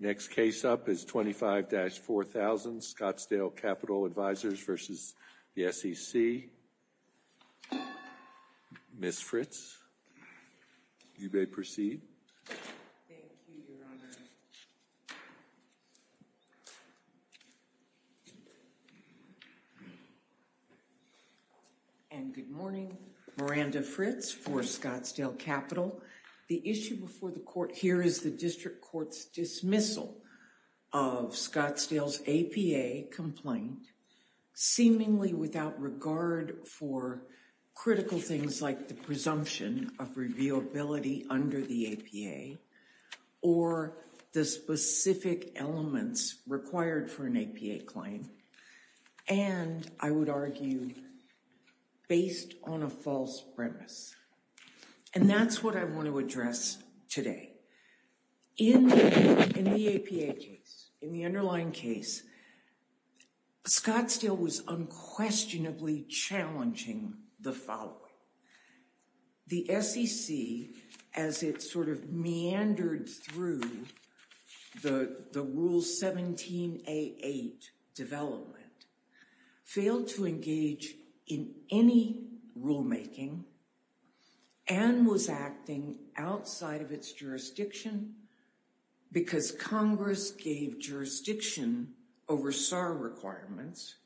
Next case up is 25-4000 Scottsdale Capital Advisors v. the SEC. Ms. Fritz, you may proceed. And good morning. Miranda Fritz for Scottsdale Capital. The issue before the court here is the District Court's dismissal of Scottsdale's APA complaint seemingly without regard for critical things like the presumption of reviewability under the APA or the specific elements required for an APA claim and, I would argue, based on a false premise. And that's what I want to address today. In the APA case, in the underlying case, Scottsdale was unquestionably challenging the following. The SEC, as it sort of meandered through the Rule 17A8 development, failed to engage in any rulemaking and was acting outside of its jurisdiction because Congress gave jurisdiction over SAR requirements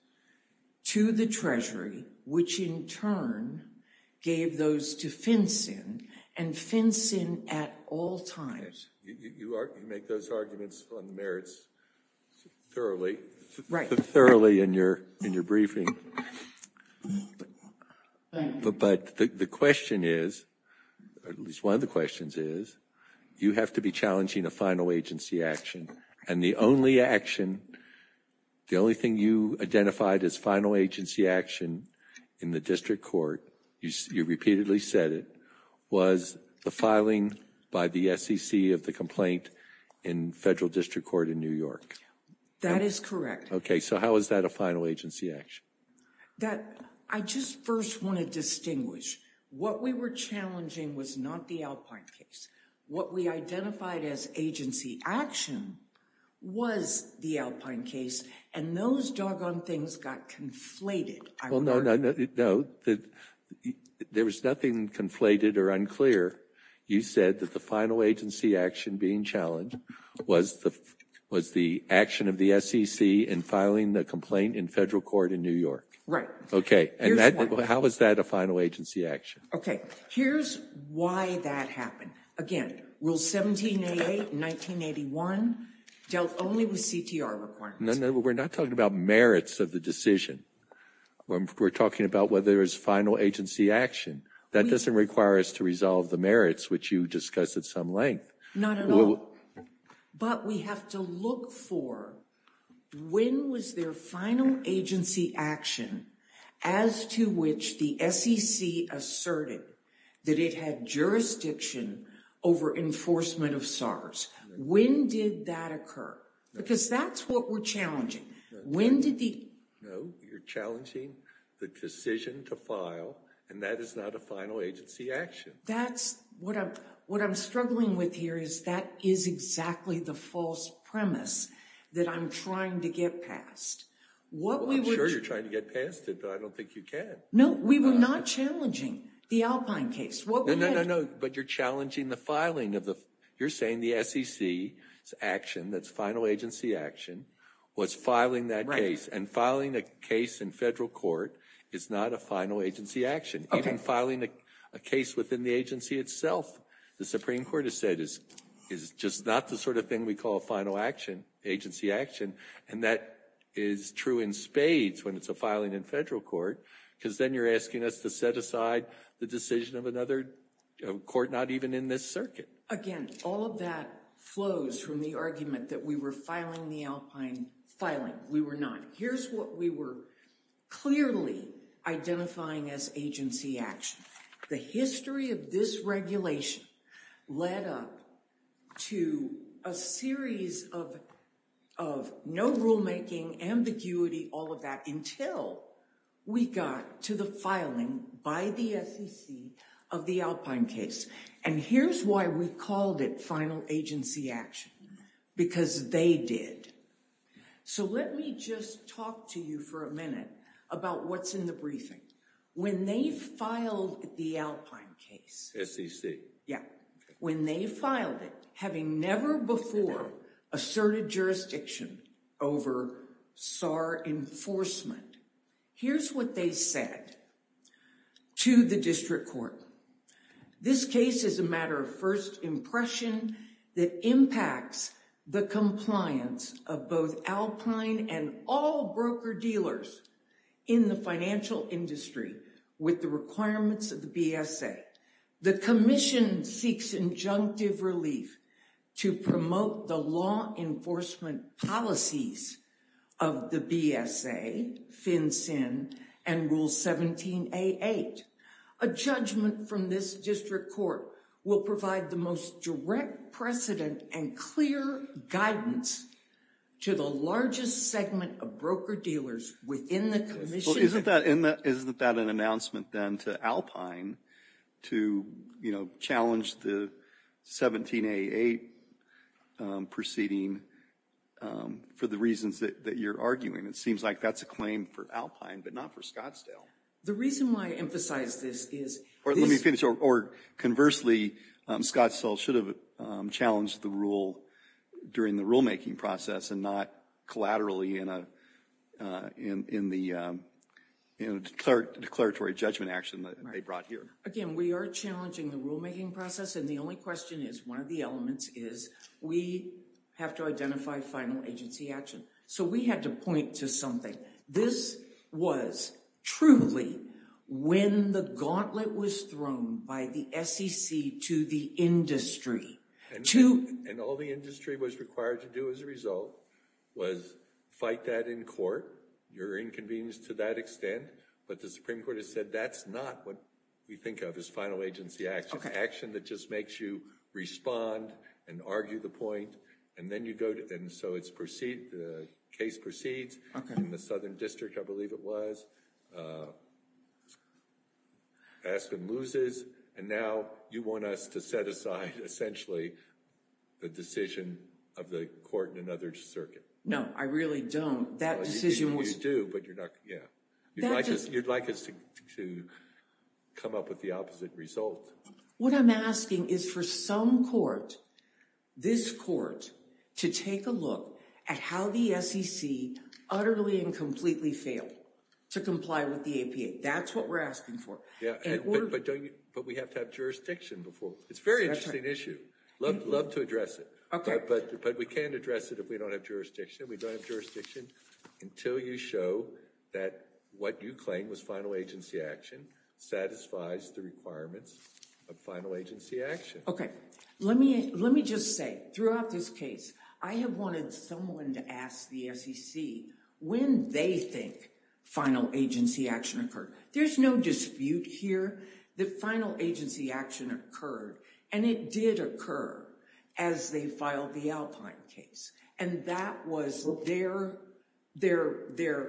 to the Treasury, which, in turn, gave those to FinCEN, and FinCEN at all times. But the question is, at least one of the questions is, you have to be challenging a agency action, and the only action, the only thing you identified as final agency action in the District Court, you repeatedly said it, was the filing by the SEC of the complaint in Federal District Court in New York. That is correct. Okay, so how is that a final agency action? That, I just first want to distinguish. What we were challenging was not the Alpine case. What we identified as agency action was the Alpine case, and those doggone things got conflated. Well, no, no, no. There was nothing conflated or unclear. You said that the final agency action being challenged was the action of the SEC in filing the complaint in Federal Court in New York. Right. Okay, and how is that a final agency action? Okay, here's why that happened. Again, Rule 1788, 1981 dealt only with CTR requirements. No, no, we're not talking about merits of the decision. We're talking about whether there's final agency action. That doesn't require us to resolve the merits, which you discuss at some length. Not at all, but we have to look for when was their final agency action as to which the SEC asserted that it had jurisdiction over enforcement of SARS. When did that occur? Because that's what we're challenging. No, you're challenging the decision to file, and that is not a final agency action. That's what I'm struggling with here is that is exactly the false premise that I'm trying to get past. I'm sure you're trying to get past it, but I don't think you can. No, we were not challenging the Alpine case. No, no, no, no, but you're challenging the filing of the, you're saying the SEC's action that's final agency action was filing that case, and filing a case in Federal Court is not a final agency action. Even filing a case within the agency itself, the Supreme Court has said, is just not the sort of thing we call final action, agency action, and that is true in spades when it's a filing in Federal Court because then you're asking us to set aside the decision of another court not even in this circuit. Again, all of that flows from the argument that we were filing the Alpine filing. We were not. Here's what we were clearly identifying as agency action. The history of this regulation led up to a series of no rulemaking, ambiguity, all of that until we got to the filing by the SEC of the Alpine case, and here's why we called it final agency action because they did. So let me just talk to you for a minute about what's in the briefing. When they filed the Alpine case, SEC, yeah, when they filed it, having never before asserted jurisdiction over SAR enforcement, here's what they said to the District Court. This case is a matter of first impression that impacts the compliance of both Alpine and all broker-dealers in the financial industry with the requirements of the BSA. The Commission seeks injunctive relief to promote the law enforcement policies of the BSA, FinCEN, and Rule 17a8. A judgment from this District Court will provide the most direct precedent and clear guidance to the largest segment of broker-dealers within the Commission. Well, isn't that an announcement then to Alpine to, you know, challenge the 17a8 proceeding for the reasons that you're arguing? It seems like that's a claim for but not for Scottsdale. The reason why I emphasize this is... Or let me finish, or conversely, Scottsdale should have challenged the rule during the rulemaking process and not collaterally in the declaratory judgment action that they brought here. Again, we are challenging the rulemaking process and the only question is, one of the elements is, we have to identify final agency action. So we had to point to something. This was truly when the gauntlet was thrown by the SEC to the industry. And all the industry was required to do as a result was fight that in court, your inconvenience to that extent, but the Supreme Court has said that's not what we think of as final agency action. Action that just makes you respond and argue the point and then you go and so it's proceed, the case proceeds in the Southern District, I believe it was. Aspen loses and now you want us to set aside essentially the decision of the court in another circuit. No, I really don't. That decision was... You do, but you're not, yeah, you'd like us to come up with the opposite result. What I'm asking is for some court, this court, to take a look at how the SEC utterly and completely failed to comply with the APA. That's what we're asking for. Yeah, but we have to have jurisdiction before. It's a very interesting issue. Love to address it, but we can't address it if we don't have jurisdiction. We don't have jurisdiction until you show that what you claim was final agency action satisfies the requirements of final agency action. Okay, let me just say throughout this case, I have wanted someone to ask the SEC when they think final agency action occurred. There's no dispute here that final agency action occurred and it did occur as they filed the Alpine case and that was their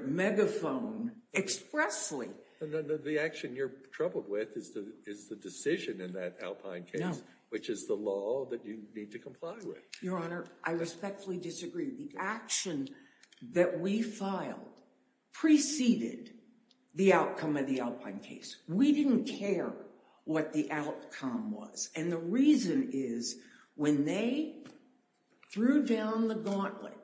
megaphone expressly. The action you're troubled with is the decision in that Alpine case, which is the law that you need to comply with. Your Honor, I respectfully disagree. The action that we filed preceded the outcome of the Alpine case. We didn't care what the outcome was. The reason is when they threw down the gauntlet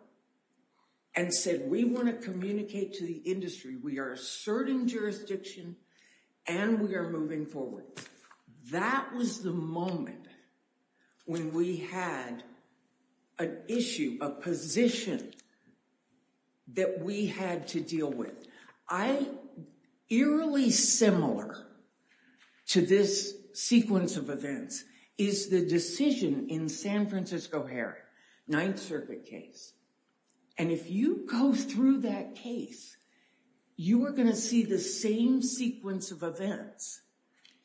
and said, we want to communicate to the industry, we are asserting jurisdiction and we are moving forward. That was the moment when we had an issue, a position that we had to deal with. I, eerily similar to this sequence of events is the decision in San Francisco Heron, Ninth Circuit case. And if you go through that case, you are going to see the same sequence of events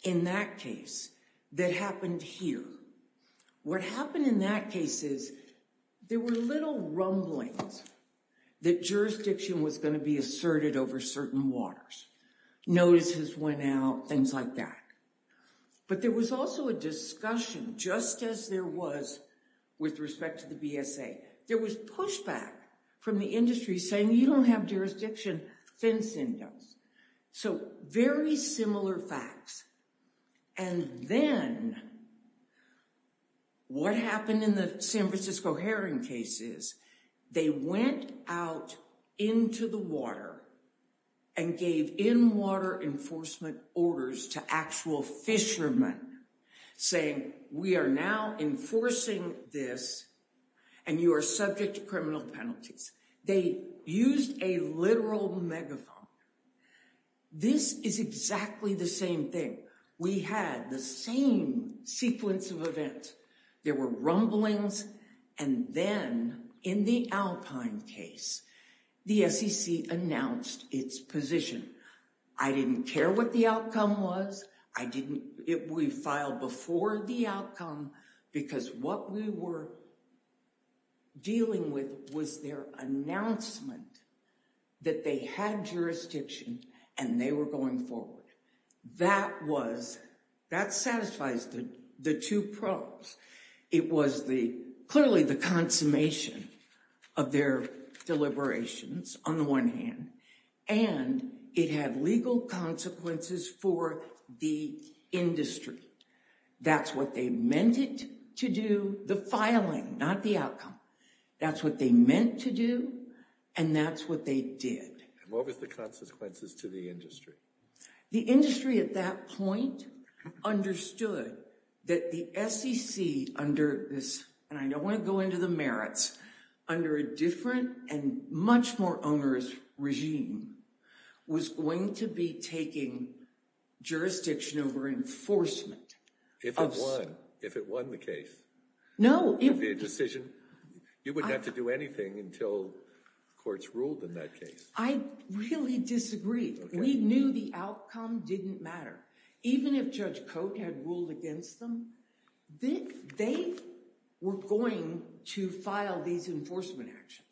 in that case that happened here. What happened in that case is there were little rumblings that jurisdiction was going to be asserted over certain waters. Notices went out, things like that. But there was also a discussion just as there was with respect to the BSA. There was pushback from the industry saying you don't have jurisdiction. So very similar facts. And then what happened in the San Francisco Heron case is they went out into the water and gave in water enforcement orders to actual fishermen saying we are now enforcing this and you are subject to criminal penalties. They used a literal megaphone. This is exactly the same thing. We had the same sequence of events. There were rumblings. And then in the Alpine case, the SEC announced its position. I didn't care what the outcome was. We filed before the outcome because what we were dealing with was their announcement that they had jurisdiction and they were going forward. That was, that satisfies the two problems. It was clearly the consummation of their deliberations on the one hand. And it had legal consequences for the industry. That's what they meant it to do, the filing, not the outcome. That's what they meant to do and that's what they did. What was the consequences to the industry? The industry at that point understood that the SEC under this, and I don't want to go into the under a different and much more onerous regime, was going to be taking jurisdiction over enforcement. If it won, if it won the case, it would be a decision. You wouldn't have to do anything until courts ruled in that case. I really disagree. We knew the outcome didn't matter. Even if Judge Cote had ruled against them, they were going to file these enforcement actions.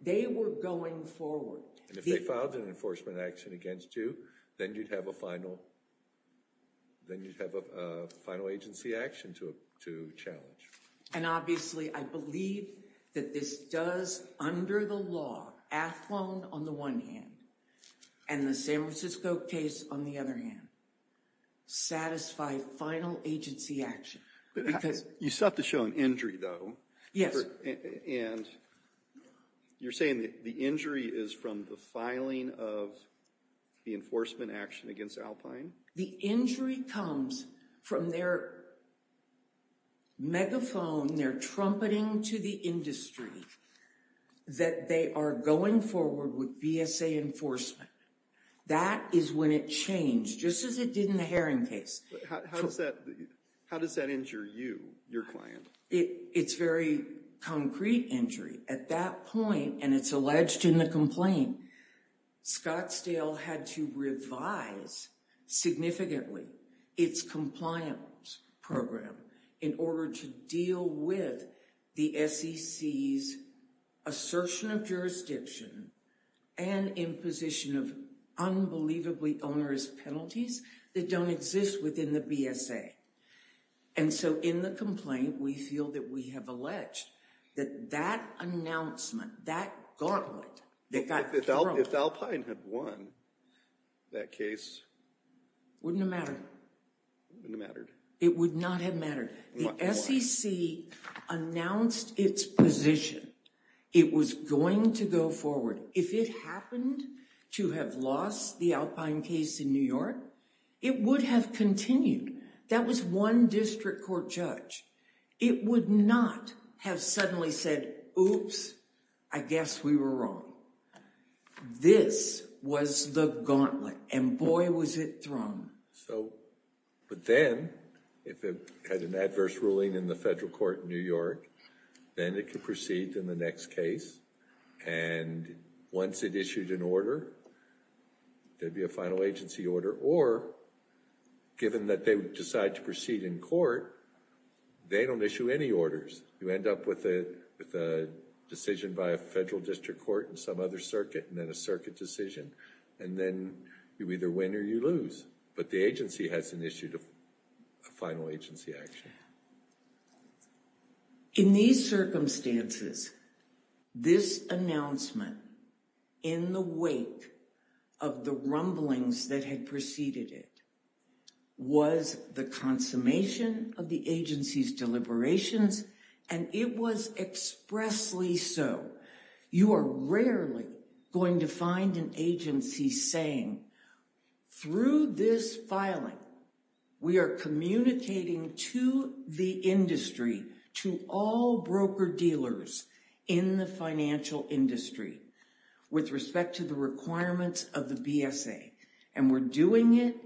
They were going forward. And if they filed an enforcement action against you, then you'd have a final, then you'd have a final agency action to challenge. And obviously, I believe that this does, under the law, Athlon on the one hand, and the San Francisco case on the other hand, satisfy final agency action. You still have to show an injury though. Yes. And you're saying the injury is from the filing of the enforcement action against Alpine? The injury comes from their megaphone, their trumpeting to the industry that they are going forward with VSA enforcement. That is when it changed, just as it did in the Heron case. How does that injure you, your client? It's very concrete injury. At that point, and it's alleged in the complaint, Scottsdale had to revise significantly its compliance program in order to deal with the SEC's assertion of jurisdiction and imposition of unbelievably onerous penalties that don't exist within the VSA. And so in the complaint, we feel that we have alleged that that announcement, that gauntlet, that got thrown. If Alpine had won that case? Wouldn't have mattered. Wouldn't have mattered. It would not have mattered. The SEC announced its position. It was going to go forward. If it happened to have lost the Alpine case in New York, it would have continued. That was one district court judge. It would not have suddenly said, oops, I guess we were wrong. This was the gauntlet, and boy was it thrown. So, but then, if it had an adverse ruling in the federal court in New York, then it could proceed in the next case. And once it issued an order, there'd be a final agency order. Or given that they decide to proceed in court, they don't issue any orders. You end up with a decision by a federal district court and some other circuit, and then a circuit decision. And then you either win or you lose. The agency has initiated a final agency action. In these circumstances, this announcement, in the wake of the rumblings that had preceded it, was the consummation of the agency's deliberations, and it was expressly so. You are rarely going to find an agency saying, through this filing, we are communicating to the industry, to all broker-dealers in the financial industry, with respect to the requirements of the BSA. And we're doing it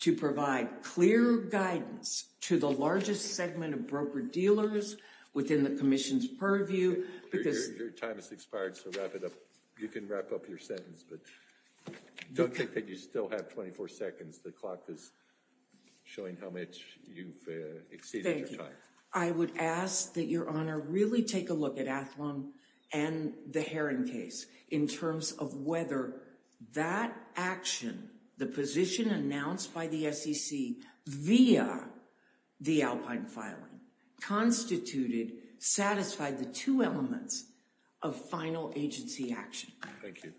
to provide clear guidance to the largest segment of broker-dealers within the commission's purview. Your time has expired, so wrap it up. You can wrap up your sentence, but don't think that you still have 24 seconds. The clock is showing how much you've exceeded your time. I would ask that Your Honor really take a look at Athlon and the Heron case in terms of whether that action, the position announced by the SEC via the Alpine filing, constituted, satisfied the two elements of final agency action. Thank you.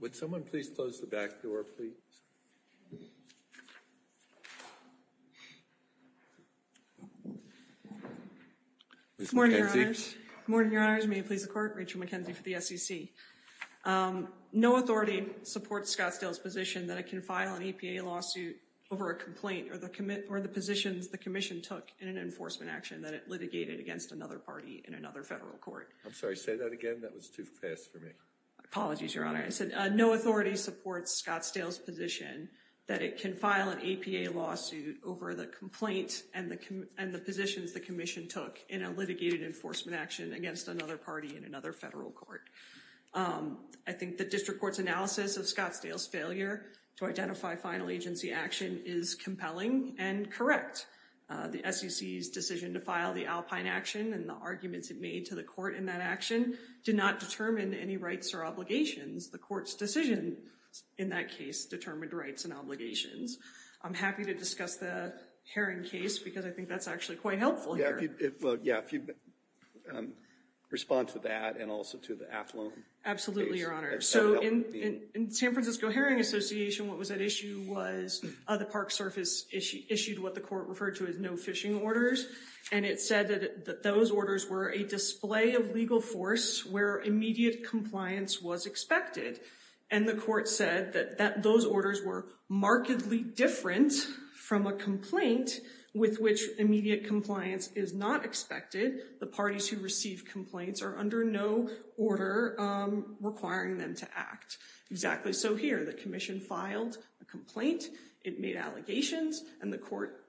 Would someone please close the back door, please? Good morning, Your Honors. Good morning, Your Honors. May it please the Court. Rachel McKenzie for the SEC. No authority supports Scottsdale's position that it can file an EPA lawsuit over a complaint or the positions the commission took in an enforcement action that it litigated against another party in another federal court. I'm sorry, say that again. That was too fast for me. Apologies, Your Honor. I said no authority supports Scottsdale's position that it can file an EPA lawsuit over the complaint and the positions the commission took in a litigated enforcement action against another party in another federal court. I think the district court's analysis of Scottsdale's failure to identify final agency action is compelling and correct. The SEC's decision to file the Alpine action and the arguments it made to the court in that action did not determine any rights or obligations. The court's decision in that case determined rights and obligations. I'm happy to discuss the Herring case because I think that's actually quite helpful here. Yeah, if you'd respond to that and also to the Athlone case. Absolutely, Your Honor. So in the San Francisco Herring Association, what was at issue was the Park Service issued what the court referred to as no fishing orders. And it said that those orders were a display of legal force where immediate compliance was expected. And the court said that those orders were markedly different from a complaint with which immediate compliance is not expected. The parties who receive complaints are under no order requiring them to act. Exactly so here. The commission filed a complaint. It made allegations. And the court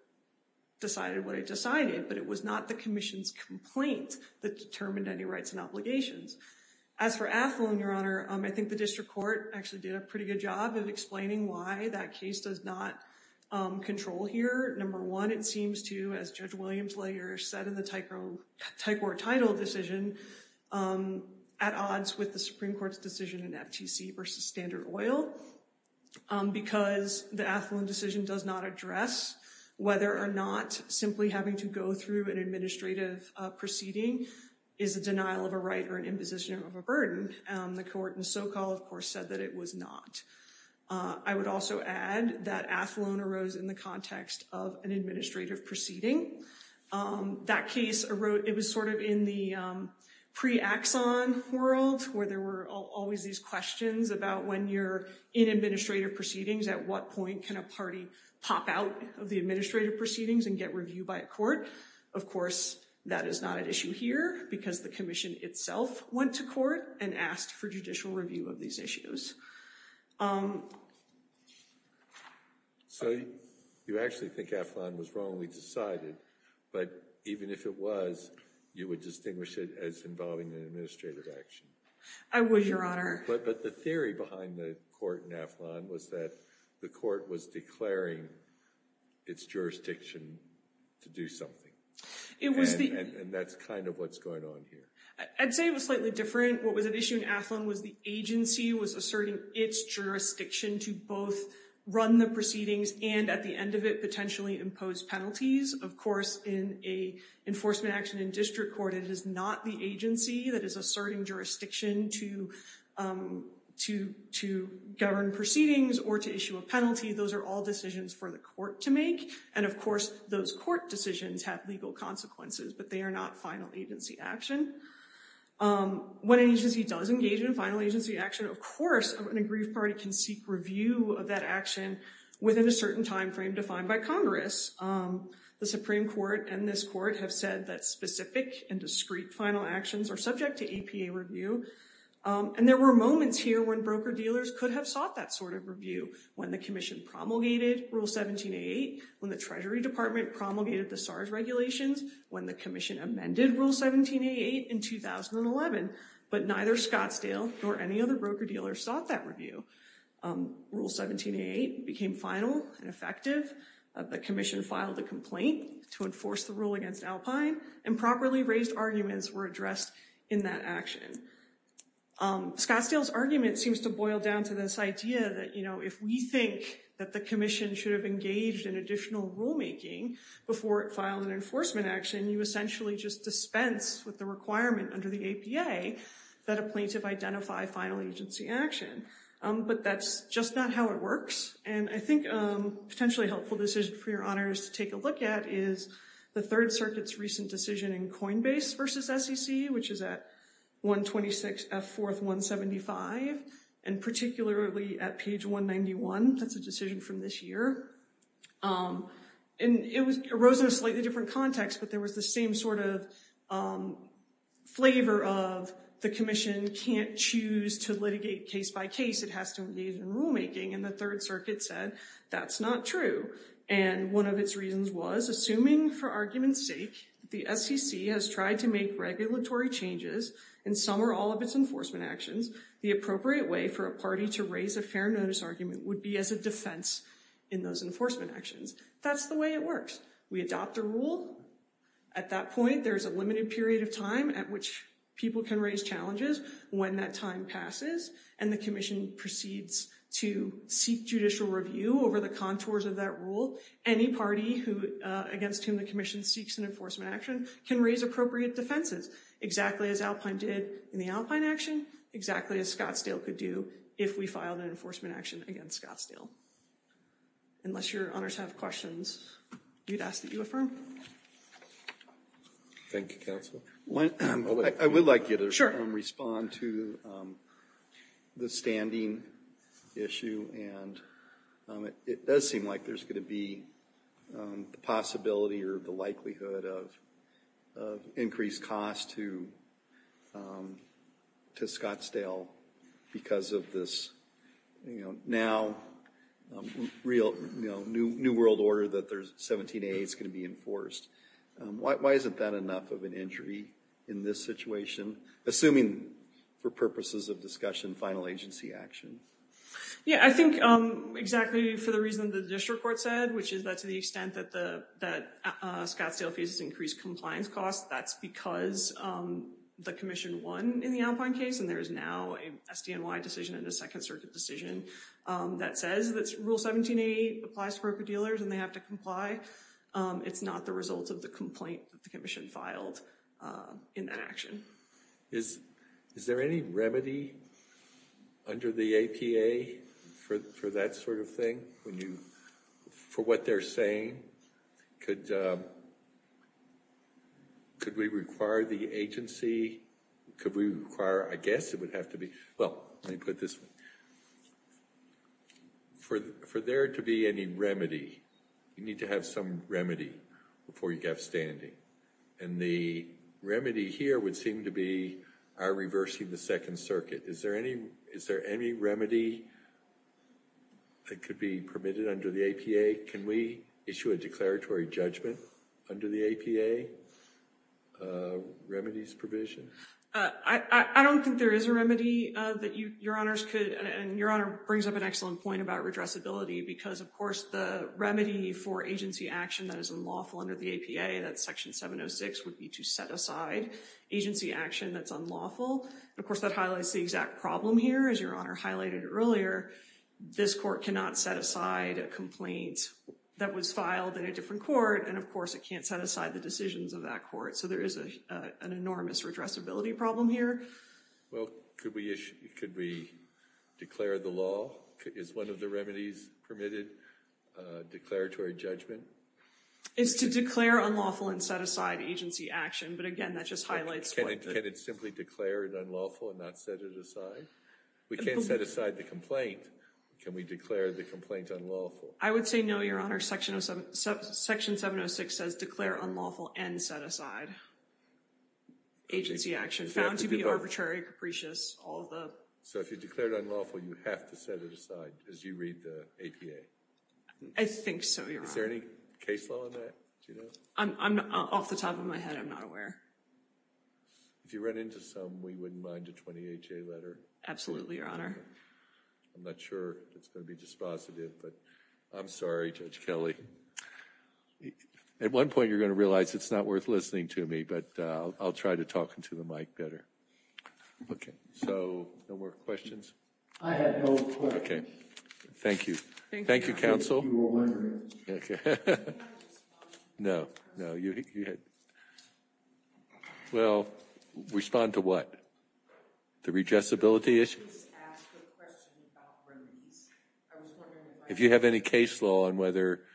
decided what it decided. But it was not the commission's complaint that determined any rights and obligations. As for Athlone, Your Honor, I think the district court actually did a pretty good job of explaining why that case does not control here. Number one, it seems to, as Judge Williams-Layer said in the tight court title decision, at odds with the Supreme Court's decision in FTC versus Standard Oil. Because the Athlone decision does not address whether or not simply having to go through an administrative proceeding is a denial of a right or an imposition of a burden. The court in SoCal, of course, said that it was not. I would also add that Athlone arose in the context of an administrative proceeding. That case, it was sort of in the pre-Axon world where there were always these questions about when you're in administrative proceedings, at what point can a party pop out of the administrative proceedings and get reviewed by a court? Of course, that is not an issue here because the commission itself went to court and asked for judicial review of these issues. So, you actually think Athlone was wrongly decided, but even if it was, you would distinguish it as involving an administrative action? I would, Your Honor. But the theory behind the court in Athlone was that the court was declaring its jurisdiction to do something. And that's kind of what's going on here. I'd say it was slightly different. What was at issue in Athlone was the agency was asserting its jurisdiction to both run the proceedings and at the end of it, potentially impose penalties. Of course, in an enforcement action in district court, it is not the agency that is asserting jurisdiction to govern proceedings or to issue a penalty. Those are all decisions for the court to make. And of course, those court decisions have legal consequences, but they are not final agency action. When an agency does engage in final agency action, of course, an aggrieved party can seek review of that action within a certain time frame defined by Congress. The Supreme Court and this court have said that specific and discreet final actions are subject to APA review. And there were moments here when broker-dealers could have sought that sort of review when the commission promulgated Rule 17a8, when the Treasury Department promulgated the SARS regulations, when the commission amended Rule 17a8 in 2011. But neither Scottsdale nor any other broker-dealer sought that review. Rule 17a8 became final and effective. The commission filed a complaint to enforce the rule against Alpine and properly raised arguments were addressed in that action. Scottsdale's argument seems to boil down to this idea that, you know, if we think that the commission should have engaged in additional rulemaking before it filed an enforcement action, you essentially just dispense with the requirement under the APA that a plaintiff identify final agency action. But that's just not how it works. And I think a potentially helpful decision for your honors to take a look at is the Third Circuit's recent decision in Coinbase versus SEC, which is at 126 F. 4th 175, and particularly at page 191. That's a decision from this year. And it arose in a slightly different context, but there was the same sort of flavor of the commission can't choose to litigate case by case, it has to engage in rulemaking. And the Third Circuit said, that's not true. And one of its reasons was, assuming for argument's sake, the SEC has tried to make regulatory changes, and some or all of its enforcement actions, the appropriate way for a party to raise a fair notice argument would be as a defense in those enforcement actions. That's the way it works. We adopt a rule. At that point, there's a limited period of time at which people can raise challenges. When that time passes, and the commission proceeds to seek judicial review over the contours of that rule, any party against whom the commission seeks an enforcement action can raise appropriate defenses, exactly as Alpine did in the Alpine action, exactly as Scottsdale could do if we filed an enforcement action against Scottsdale. Unless your honors have questions, you'd ask that you affirm. Thank you, counsel. I would like you to respond to the standing issue, and it does seem like there's going to be the possibility or the likelihood of increased cost to Scottsdale because of this now new world order that 17A is going to be enforced. Why isn't that enough of an injury in this situation, assuming for purposes of discussion, final agency action? Yeah, I think exactly for the reason the district court said, which is that to the extent that Scottsdale faces increased compliance costs, that's because the commission won in the Alpine case, and there is now an SDNY decision and a Second Circuit decision that says that rule 17A applies to broker-dealers and they have to comply. It's not the result of the complaint that the commission filed in that action. Is there any remedy under the APA for that sort of thing? For what they're saying, could we require the agency, could we require, I guess it would have to be, well, let me put this one. For there to be any remedy, you need to have some remedy before you have standing, and the remedy here would seem to be our reversing the Second Circuit. Is there any remedy that could be permitted under the APA? Can we issue a declaratory judgment under the APA for a remedy's provision? I don't think there is a remedy that Your Honors could, and Your Honor brings up an excellent point about redressability, because of course the remedy for agency action that is unlawful under the APA, that's Section 706, would be to set aside agency action that's unlawful. Of course, that highlights the exact problem here. As Your Honor highlighted earlier, this court cannot set aside a complaint that was filed in a different court, and of course it can't set aside the decisions of that court, so there is an enormous redressability problem here. Well, could we issue, could we declare the law? Is one of the remedies permitted, declaratory judgment? It's to declare unlawful and set aside agency action, but again, that just highlights what- Can it simply declare it unlawful and not set it aside? We can't set aside the complaint. Can we declare the complaint unlawful? I would say no, Your Honor. Section 706 says declare unlawful and set aside agency action, found to be arbitrary, capricious, all of the- So if you declared unlawful, you have to set it aside as you read the APA? I think so, Your Honor. Is there any case law on that? Do you know? I'm off the top of my head. I'm not aware. If you run into some, we wouldn't mind a 20HA letter? Absolutely, Your Honor. I'm not sure if it's going to be dispositive, but I'm sorry, Judge Kelley. At one point, you're going to realize it's not worth listening to me, but I'll try to talk into the mic better. Okay, so no more questions? I have no questions. Okay, thank you. Thank you, counsel. Thank you, Your Honor. Okay. No, no, you had- Well, respond to what? The redressability issue? Please ask a question about remedies. I was wondering- If you have any case law on whether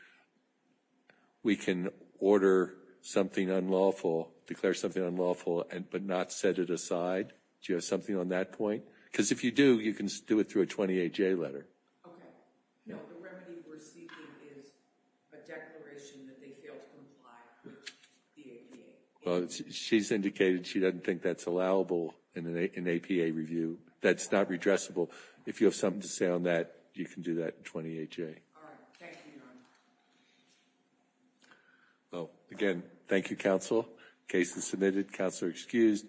we can order something unlawful, declare something unlawful, but not set it aside? Do you have something on that point? Because if you do, you can do it through a 20HA letter. Okay. No, the remedy we're seeking is a declaration that they fail to comply with the APA. Well, she's indicated she doesn't think that's allowable in an APA review. That's not redressable. If you have something to say on that, you can do that in 20HA. All right. Well, again, thank you, counsel. Case is submitted. Counselor excused.